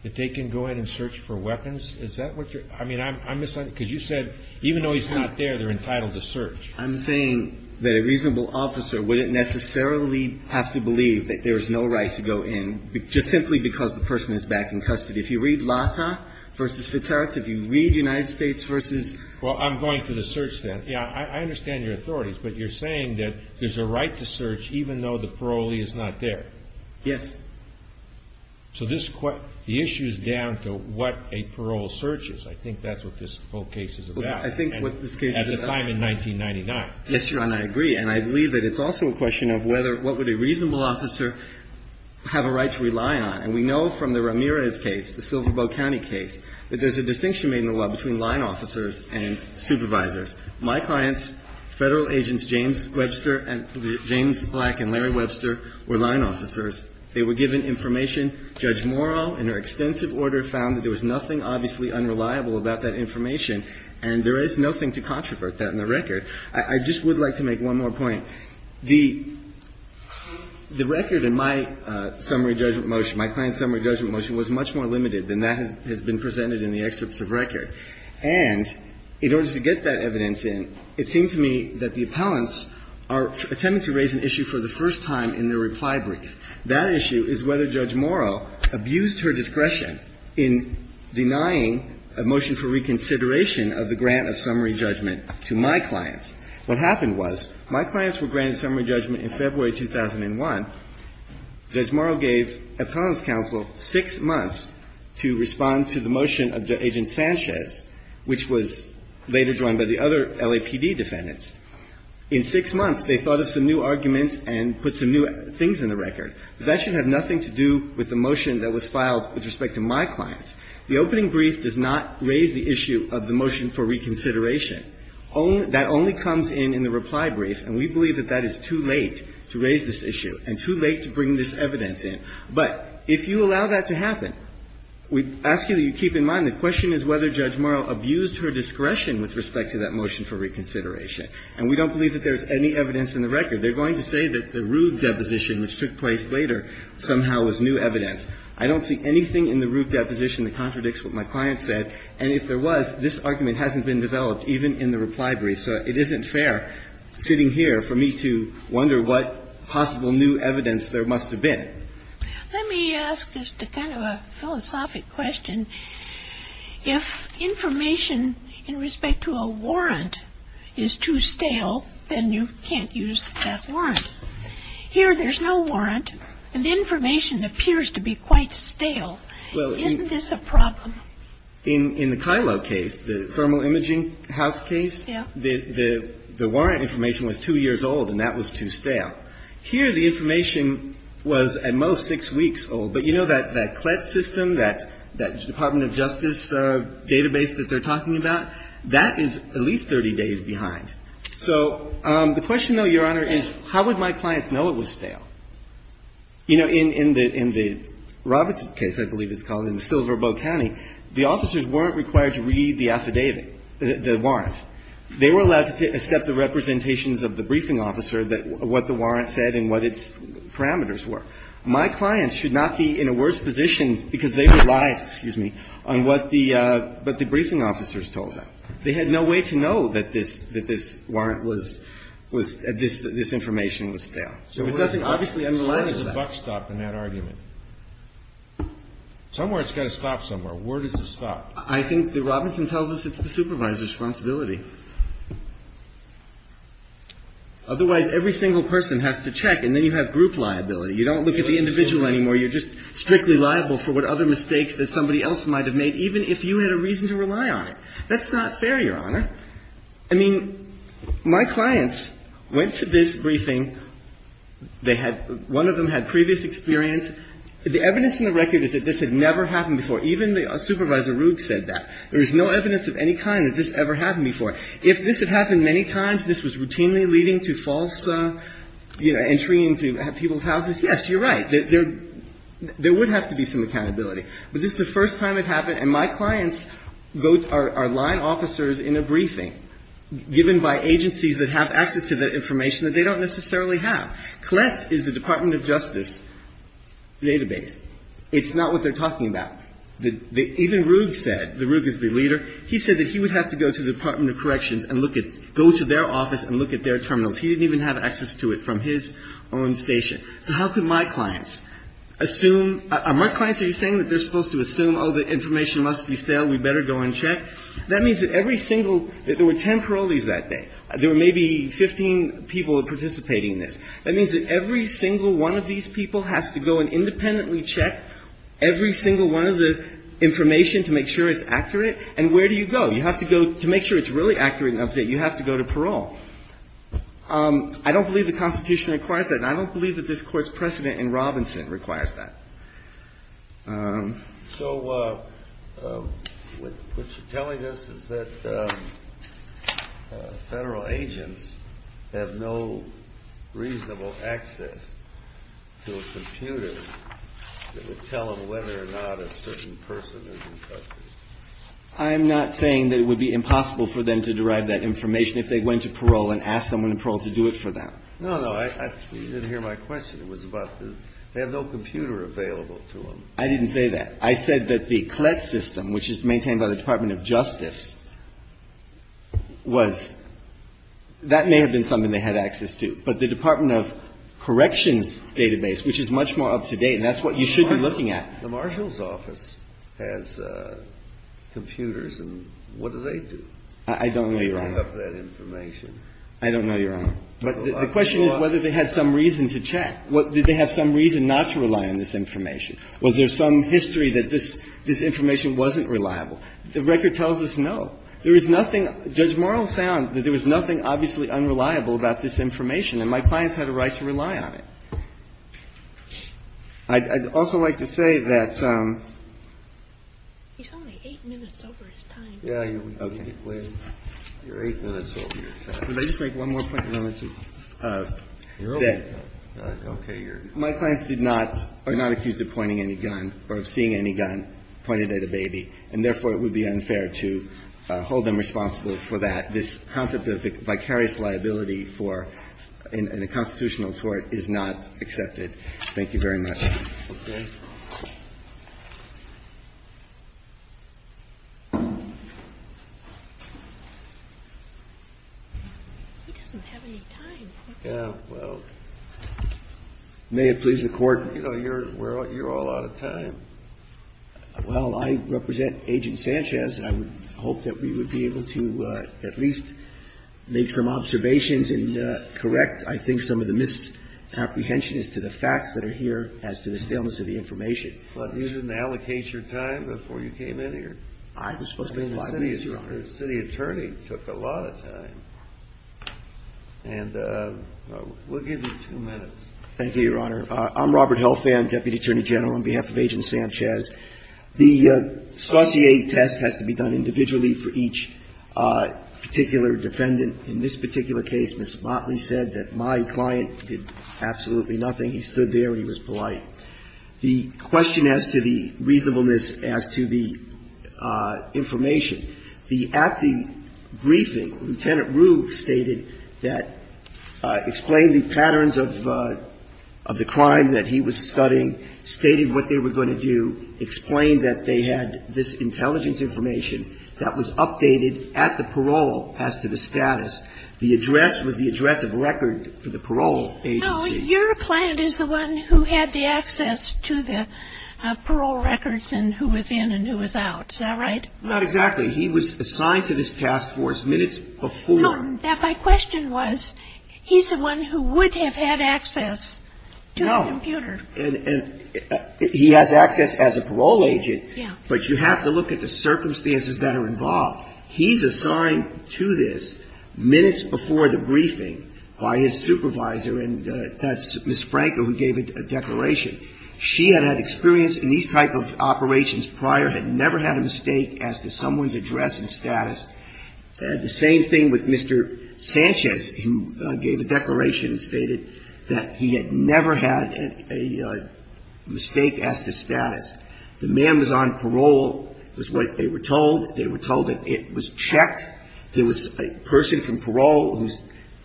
that they can go in and search for weapons? Is that what you're – I mean, I'm – because you said even though he's not there, they're entitled to search. I'm saying that a reasonable officer wouldn't necessarily have to believe that there's no right to go in, just simply because the person is back in custody. If you read Lata v. Fitzherald's, if you read United States v. Well, I'm going to the search then. Yeah, I understand your authorities, but you're saying that there's a right to search even though the parolee is not there. Yes. So this – the issue is down to what a parole search is. I think that's what this whole case is about. At the time in 1999. Yes, Your Honor, I agree. And I believe that it's also a question of whether – what would a reasonable officer have a right to rely on. And we know from the Ramirez case, the Silverboe County case, that there's a distinction made in the law between line officers and supervisors. My clients, Federal Agents James Webster and – James Black and Larry Webster were line officers. They were given information. Judge Morrow, in her extensive order, found that there was nothing obviously unreliable about that information. And there is nothing to controvert that in the record. I just would like to make one more point. The record in my summary judgment motion, my client's summary judgment motion, was much more limited than that has been presented in the excerpts of record. And in order to get that evidence in, it seemed to me that the appellants are attempting to raise an issue for the first time in their reply brief. That issue is whether Judge Morrow abused her discretion in denying a motion for reconsideration of the grant of summary judgment to my clients. What happened was my clients were granted summary judgment in February 2001. Judge Morrow gave appellants counsel six months to respond to the motion of Agent Sanchez, which was later joined by the other LAPD defendants. In six months, they thought of some new arguments and put some new things in the record. That should have nothing to do with the motion that was filed with respect to my clients. The opening brief does not raise the issue of the motion for reconsideration. That only comes in in the reply brief, and we believe that that is too late to raise this issue and too late to bring this evidence in. But if you allow that to happen, we ask you to keep in mind the question is whether Judge Morrow abused her discretion with respect to that motion for reconsideration. And we don't believe that there's any evidence in the record. They're going to say that the rude deposition which took place later somehow was new evidence. I don't see anything in the rude deposition that contradicts what my client said. And if there was, this argument hasn't been developed even in the reply brief. So it isn't fair sitting here for me to wonder what possible new evidence there must have been. Let me ask just a kind of a philosophic question. If information in respect to a warrant is too stale, then you can't use that warrant. Here there's no warrant, and the information appears to be quite stale. Isn't this a problem? In the Kilo case, the thermal imaging house case, the warrant information was two years old, and that was too stale. Here the information was at most six weeks old. But you know that CLET system, that Department of Justice database that they're talking about, that is at least 30 days behind. So the question, though, Your Honor, is how would my clients know it was stale? You know, in the Roberts case, I believe it's called, in Silver Bow County, the officers weren't required to read the affidavit, the warrant. They were allowed to accept the representations of the briefing officer, what the warrant said and what its parameters were. My clients should not be in a worse position, because they relied, excuse me, on what the briefing officers told them. They had no way to know that this warrant was, this information was stale. There was nothing obviously underlying that. So where does the buck stop in that argument? Somewhere it's got to stop somewhere. Where does it stop? I think that Robinson tells us it's the supervisor's responsibility. Otherwise, every single person has to check, and then you have group liability. You don't look at the individual anymore. You're just strictly liable for what other mistakes that somebody else might have made, even if you had a reason to rely on it. That's not fair, Your Honor. I mean, my clients went to this briefing. They had, one of them had previous experience. The evidence in the record is that this had never happened before. Even Supervisor Rook said that. There is no evidence of any kind that this ever happened before. If this had happened many times, this was routinely leading to false, you know, entering into people's houses, yes, you're right. There would have to be some accountability. But this is the first time it happened, and my clients are line officers in a briefing given by agencies that have access to the information that they don't necessarily have. CLETS is the Department of Justice database. It's not what they're talking about. Even Rook said, the Rook is the leader, he said that he would have to go to the Department of Corrections and look at, go to their office and look at their terminals. He didn't even have access to it from his own station. So how could my clients assume, are my clients, are you saying that they're supposed to assume, oh, the information must be stale, we better go and check? That means that every single, there were ten parolees that day. There were maybe 15 people participating in this. That means that every single one of these people has to go and independently check every single one of the information to make sure it's accurate. And where do you go? You have to go, to make sure it's really accurate and up to date, you have to go to parole. I don't believe the Constitution requires that, and I don't believe that this Court's precedent in Robinson requires that. So what you're telling us is that Federal agents have no reasonable access to a computer that would tell them whether or not a certain person is in custody. I'm not saying that it would be impossible for them to derive that information if they went to parole and asked someone in parole to do it for them. No, no. You didn't hear my question. It was about, they have no computer available to them. I didn't say that. I said that the CLET system, which is maintained by the Department of Justice, was, that may have been something they had access to. But the Department of Corrections database, which is much more up to date, and that's what you should be looking at. The marshal's office has computers, and what do they do? I don't know, Your Honor. To pick up that information. I don't know, Your Honor. But the question is whether they had some reason to check. Did they have some reason not to rely on this information? Was there some history that this information wasn't reliable? The record tells us no. There is nothing. Judge Morrell found that there was nothing obviously unreliable about this information, and my clients had a right to rely on it. I'd also like to say that some of the eight minutes over his time. Yeah. Okay. You're eight minutes over your time. Could I just make one more point? You're over your time. Okay. My clients did not or are not accused of pointing any gun or of seeing any gun pointed at a baby, and therefore, it would be unfair to hold them responsible for that. This concept of vicarious liability for a constitutional tort is not accepted. Thank you very much. Okay. He doesn't have any time. Well, may it please the Court. You know, you're all out of time. Well, I represent Agent Sanchez. I would hope that we would be able to at least make some observations and correct, I think, some of the misapprehension as to the facts that are here as to the staleness of the information. But you didn't allocate your time before you came in here? I was supposed to have five minutes, Your Honor. The city attorney took a lot of time. And we'll give you two minutes. Thank you, Your Honor. I'm Robert Helfand, Deputy Attorney General, on behalf of Agent Sanchez. The saucier test has to be done individually for each particular defendant. In this particular case, Ms. Motley said that my client did absolutely nothing. He stood there and he was polite. The question as to the reasonableness as to the information, the acting briefing, Lieutenant Roof stated that, explained the patterns of the crime that he was studying, stated what they were going to do, explained that they had this intelligence information that was updated at the parole as to the status. The address was the address of record for the parole agency. No, your client is the one who had the access to the parole records and who was in and who was out. Is that right? Not exactly. He was assigned to this task force minutes before. No. My question was, he's the one who would have had access to a computer. No. And he has access as a parole agent. Yeah. But you have to look at the circumstances that are involved. He's assigned to this minutes before the briefing by his supervisor, and that's Ms. Franco who gave a declaration. She had had experience in these type of operations prior, had never had a mistake as to someone's address and status. The same thing with Mr. Sanchez, who gave a declaration and stated that he had never had a mistake as to status. The man was on parole was what they were told. They were told that it was checked. There was a person from parole who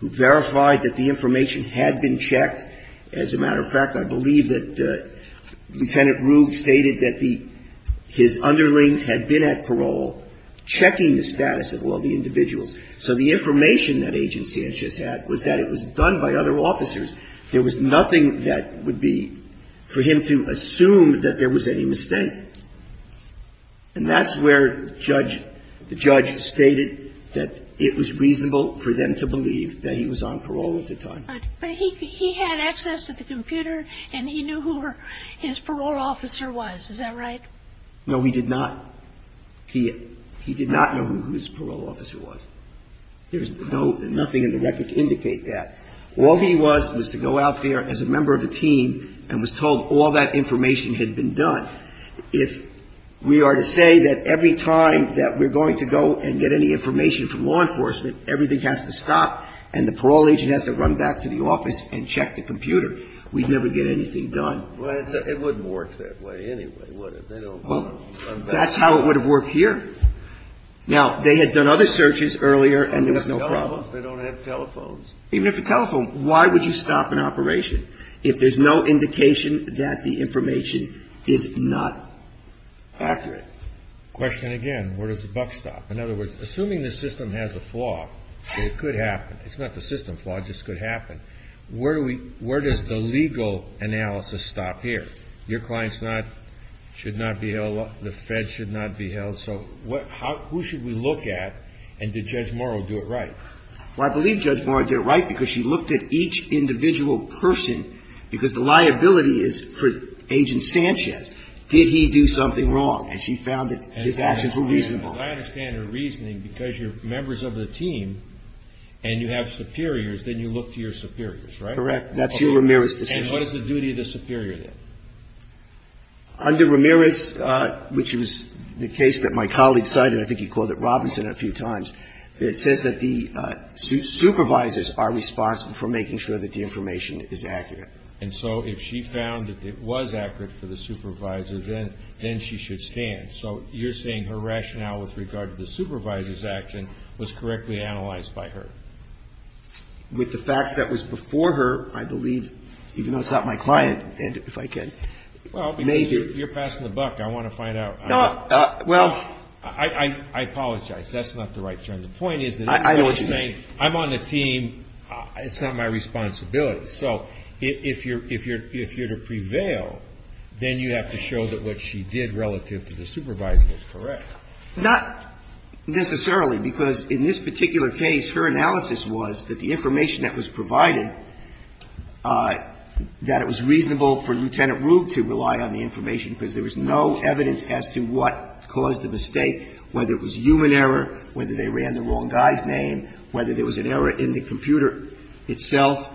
verified that the information had been checked. As a matter of fact, I believe that Lieutenant Roof stated that his underlings had been at parole checking the status of all the individuals. So the information that Agent Sanchez had was that it was done by other officers. There was nothing that would be for him to assume that there was any mistake. And that's where the judge stated that it was reasonable for them to believe that he was on parole at the time. But he had access to the computer, and he knew who his parole officer was. Is that right? No, he did not. He did not know who his parole officer was. There is nothing in the record to indicate that. All he was was to go out there as a member of a team and was told all that information had been done. If we are to say that every time that we're going to go and get any information from law enforcement, everything has to stop and the parole agent has to run back to the office and check the computer, we'd never get anything done. Well, it wouldn't work that way anyway, would it? Well, that's how it would have worked here. Now, they had done other searches earlier, and there was no problem. They don't have telephones. Even if a telephone, why would you stop an operation if there's no indication that the information is not accurate? Question again. Where does the buck stop? In other words, assuming the system has a flaw, it could happen. It's not the system flaw. It just could happen. Where does the legal analysis stop here? Your clients should not be held. The Fed should not be held. So who should we look at, and did Judge Morrow do it right? Well, I believe Judge Morrow did it right because she looked at each individual person because the liability is for Agent Sanchez. Did he do something wrong? And she found that his actions were reasonable. Because I understand her reasoning because you're members of the team and you have superiors, then you look to your superiors, right? Correct. That's your Ramirez decision. And what is the duty of the superior then? Under Ramirez, which was the case that my colleague cited, I think he called it Robinson a few times, it says that the supervisors are responsible for making sure that the information is accurate. And so if she found that it was accurate for the supervisor, then she should stand. So you're saying her rationale with regard to the supervisor's actions was correctly analyzed by her. With the facts that was before her, I believe, even though it's not my client, and if I can maybe. Well, because you're passing the buck. I want to find out. Well. I apologize. That's not the right term. The point is that I'm on the team. It's not my responsibility. So if you're to prevail, then you have to show that what she did relative to the supervisor was correct. Not necessarily, because in this particular case, her analysis was that the information that was provided, that it was reasonable for Lieutenant Rube to rely on the information because there was no evidence as to what caused the mistake, whether it was human error, whether they ran the wrong guy's name, whether there was an error in the computer itself.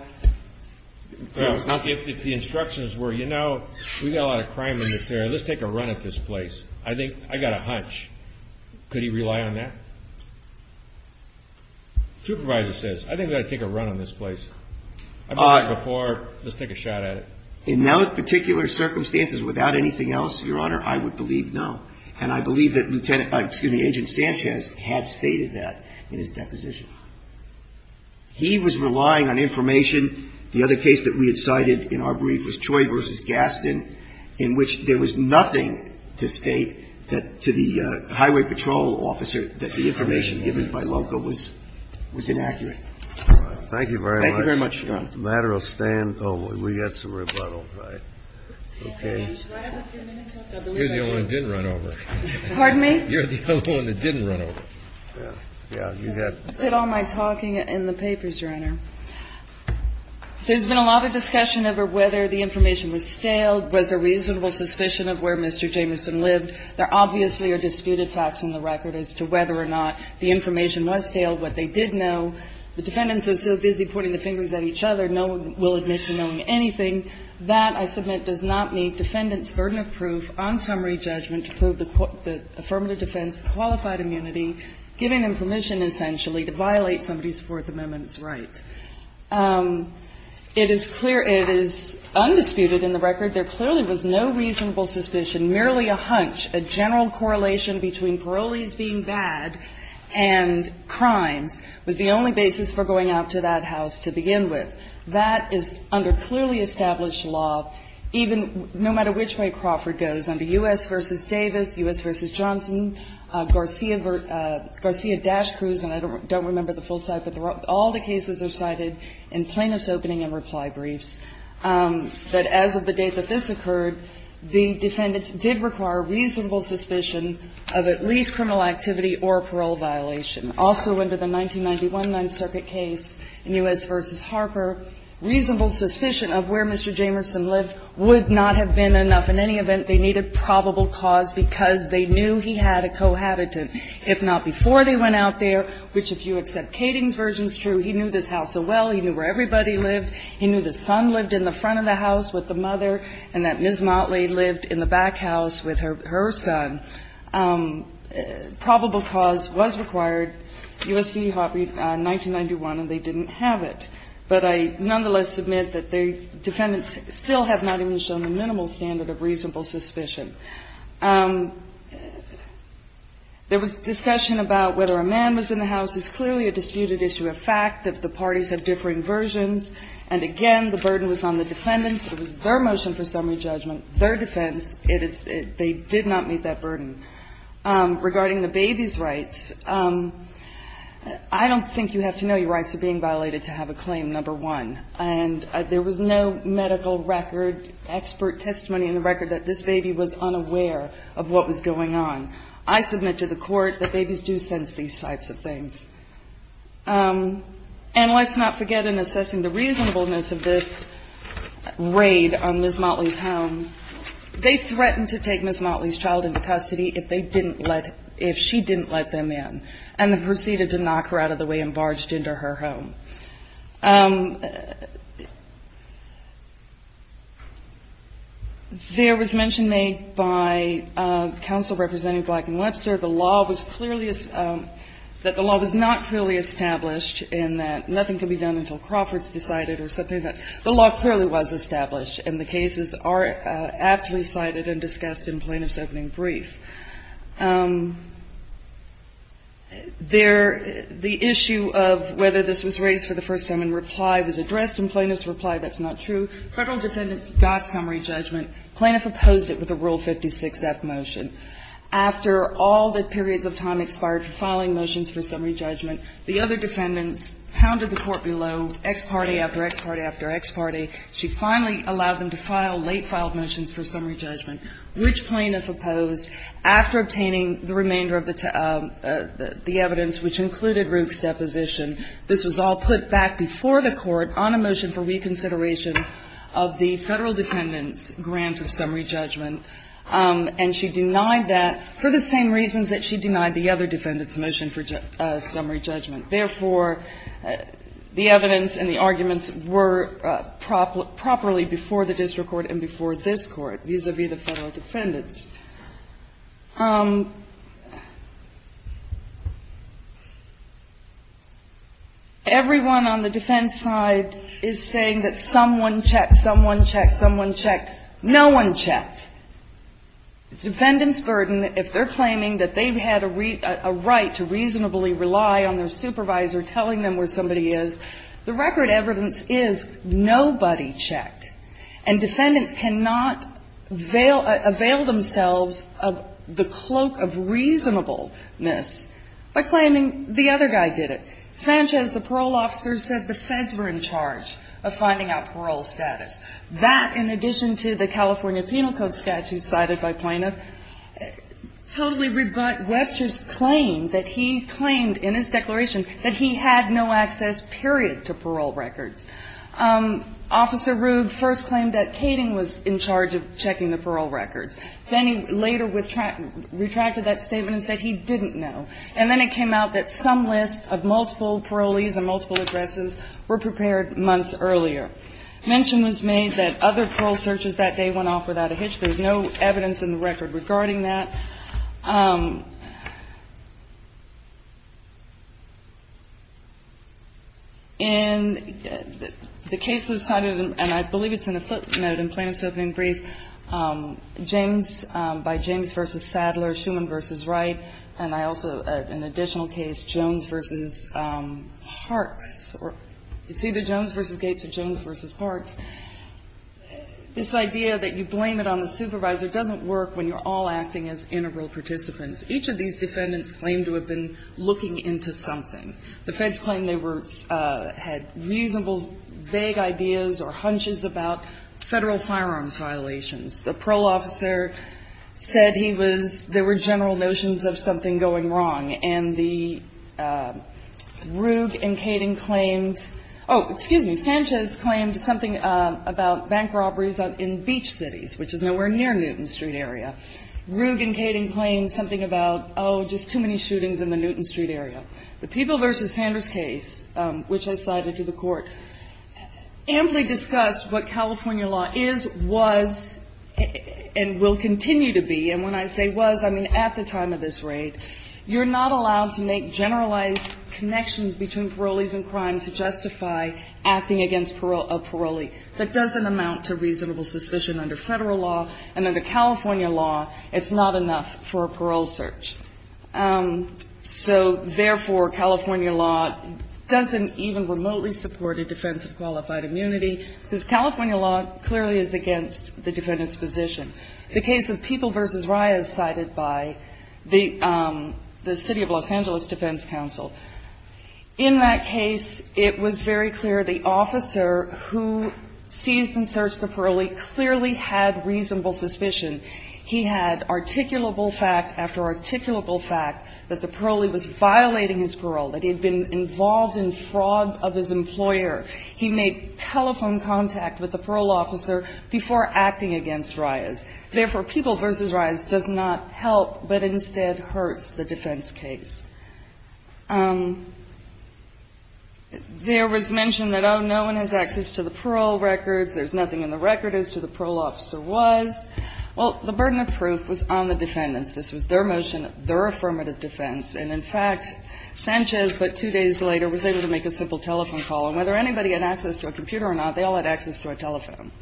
If the instructions were, you know, we've got a lot of crime in this area. Let's take a run at this place. I think I got a hunch. Could he rely on that? Supervisor says, I think we ought to take a run on this place. I've done that before. Let's take a shot at it. In no particular circumstances without anything else, Your Honor, I would believe no. And I believe that Lieutenant, excuse me, Agent Sanchez had stated that in his deposition. He was relying on information. The other case that we had cited in our brief was Troy v. Gaston, in which there was nothing to state that to the highway patrol officer that the information given by LOCO was inaccurate. Thank you very much. Thank you very much, Your Honor. The matter will stand. Oh, we got some rebuttal. Right. Okay. You're the only one that didn't run over. Pardon me? You're the only one that didn't run over. Yeah. Yeah. That's it all my talking in the papers, Your Honor. There's been a lot of discussion over whether the information was stale, was there reasonable suspicion of where Mr. Jamerson lived. There obviously are disputed facts in the record as to whether or not the information was stale, what they did know. The defendants are so busy pointing the fingers at each other, no one will admit to knowing anything. That, I submit, does not meet defendants' burden of proof on summary judgment to prove the affirmative defense of qualified immunity, giving them permission essentially to violate somebody's Fourth Amendment rights. It is clear, it is undisputed in the record, there clearly was no reasonable suspicion, merely a hunch, a general correlation between parolees being bad and crimes was the only basis for going out to that house to begin with. That is under clearly established law, even no matter which way Crawford goes, under U.S. v. Davis, U.S. v. Johnson, Garcia, Garcia-Dash Cruz, and I don't remember the full site, but all the cases are cited in plaintiff's opening and reply briefs, that as of the date that this occurred, the defendants did require reasonable suspicion of at least criminal activity or parole violation. Also under the 1991 Ninth Circuit case in U.S. v. Harper, reasonable suspicion of where Mr. Jamerson lived would not have been enough. In any event, they needed probable cause because they knew he had a cohabitant. If not before they went out there, which if you accept Kading's version is true, he knew this house so well, he knew where everybody lived, he knew the son lived in the front of the house with the mother, and that Ms. Motley lived in the back house with her son. Probable cause was required, U.S. v. Harper, 1991, and they didn't have it. But I nonetheless submit that the defendants still have not even shown the minimal standard of reasonable suspicion. There was discussion about whether a man was in the house. It's clearly a disputed issue, a fact that the parties have differing versions. And again, the burden was on the defendants. It was their motion for summary judgment, their defense. They did not meet that burden. Regarding the baby's rights, I don't think you have to know your rights are being violated to have a claim, number one. And there was no medical record, expert testimony in the record that this baby was unaware of what was going on. I submit to the court that babies do sense these types of things. And let's not forget, in assessing the reasonableness of this raid on Ms. Motley's home, they threatened to take Ms. Motley's child into custody if they didn't let, if she didn't let them in, and they proceeded to knock her out of the way and barged into her home. There was mention made by counsel representing Black and Lebser that the law was clearly, that the law was not clearly established and that nothing could be done until Crawford's decided or something like that. The law clearly was established, and the cases are aptly cited and discussed in plaintiff's opening brief. There, the issue of whether this was raised for the first time in reply was addressed in plaintiff's reply. That's not true. Federal defendants got summary judgment. Plaintiff opposed it with a Rule 56-F motion. After all the periods of time expired for filing motions for summary judgment, the other defendants pounded the court below, ex parte, after ex parte, after ex parte. She finally allowed them to file late-filed motions for summary judgment. And she denied that for the same reasons that she denied the other defendants' motion for summary judgment. Therefore, the evidence and the arguments were properly before the district court and before this Court, vis-à-vis the federal defendants. motion for summary judgment. Everyone on the defense side is saying that someone checked, someone checked, someone checked, no one checked. It's defendant's burden if they're claiming that they've had a right to reasonably rely on their supervisor telling them where somebody is. The record evidence is nobody checked. And defendants cannot avail themselves of the cloak of reasonableness by claiming the other guy did it. Sanchez, the parole officer, said the feds were in charge of finding out parole status. That, in addition to the California Penal Code statute cited by plaintiff, totally rebut Webster's claim that he claimed in his declaration that he had no access, period, to parole records. Officer Rude first claimed that Kading was in charge of checking the parole records. Then he later retracted that statement and said he didn't know. And then it came out that some lists of multiple parolees and multiple addresses were prepared months earlier. Mention was made that other parole searches that day went off without a hitch. There's no evidence in the record regarding that. In the cases cited, and I believe it's in the footnote in Plaintiff's opening brief, James, by James v. Sadler, Schuman v. Wright, and I also, an additional case, Jones v. Parks. You see the Jones v. Gates or Jones v. Parks. This idea that you blame it on the supervisor doesn't work when you're all acting as integral participants. Each of these defendants claimed to have been looking into something. The feds claimed they were, had reasonable, vague ideas or hunches about Federal firearms violations. The parole officer said he was, there were general notions of something going wrong. And the Ruge and Kading claimed, oh, excuse me, Sanchez claimed something about bank robberies in beach cities, which is nowhere near Newton Street area. Ruge and Kading claimed something about, oh, just too many shootings in the Newton Street area. The Peeble v. Sanders case, which I cited to the court, amply discussed what California law is, was, and will continue to be. And when I say was, I mean at the time of this raid. You're not allowed to make generalized connections between parolees and crimes to justify acting against a parolee. That doesn't amount to reasonable suspicion under Federal law and under California law. It's not enough for a parole search. So, therefore, California law doesn't even remotely support a defense of qualified immunity, because California law clearly is against the defendant's position. The case of Peeble v. Reyes cited by the City of Los Angeles Defense Council, in that case it was very clear the officer who seized and searched the parolee clearly had reasonable suspicion. He had articulable fact after articulable fact that the parolee was violating his parole, that he had been involved in fraud of his employer. He made telephone contact with the parole officer before acting against Reyes. Therefore, Peeble v. Reyes does not help, but instead hurts the defense case. There was mention that, oh, no one has access to the parole records. There's nothing in the record as to the parole officer was. Well, the burden of proof was on the defendants. This was their motion, their affirmative defense. And, in fact, Sanchez, but two days later, was able to make a simple telephone call. And whether anybody had access to a computer or not, they all had access to a telephone.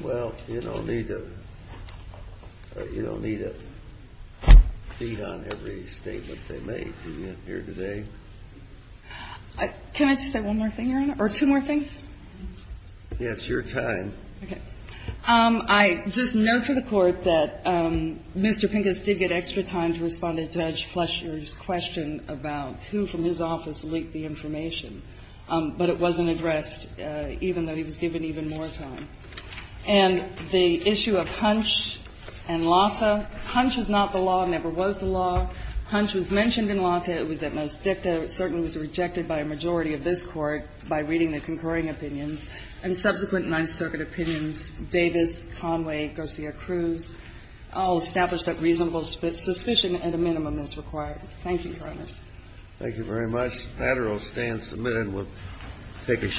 Well, you don't need to feed on every statement they made, do you, here today? Can I just say one more thing, Your Honor? Or two more things? Yes, your time. Okay. I just note for the Court that Mr. Pincus did get extra time to respond to Judge Fletcher's question about who from his office leaked the information. But it wasn't addressed, even though he was given even more time. And the issue of Hunch and Lata, Hunch is not the law, never was the law. Hunch was mentioned in Lata. It was at most dicta. I would have to say that it is a concern because it was rejected by a majority of this Court by reading the concurring opinions. And subsequent Ninth Circuit opinions, Davis, Conway, Garcia-Cruz, all established that reasonable suspicion at a minimum is required. Thank you, Your Honors. Thank you very much. That order will stand submitted. We'll take a short break.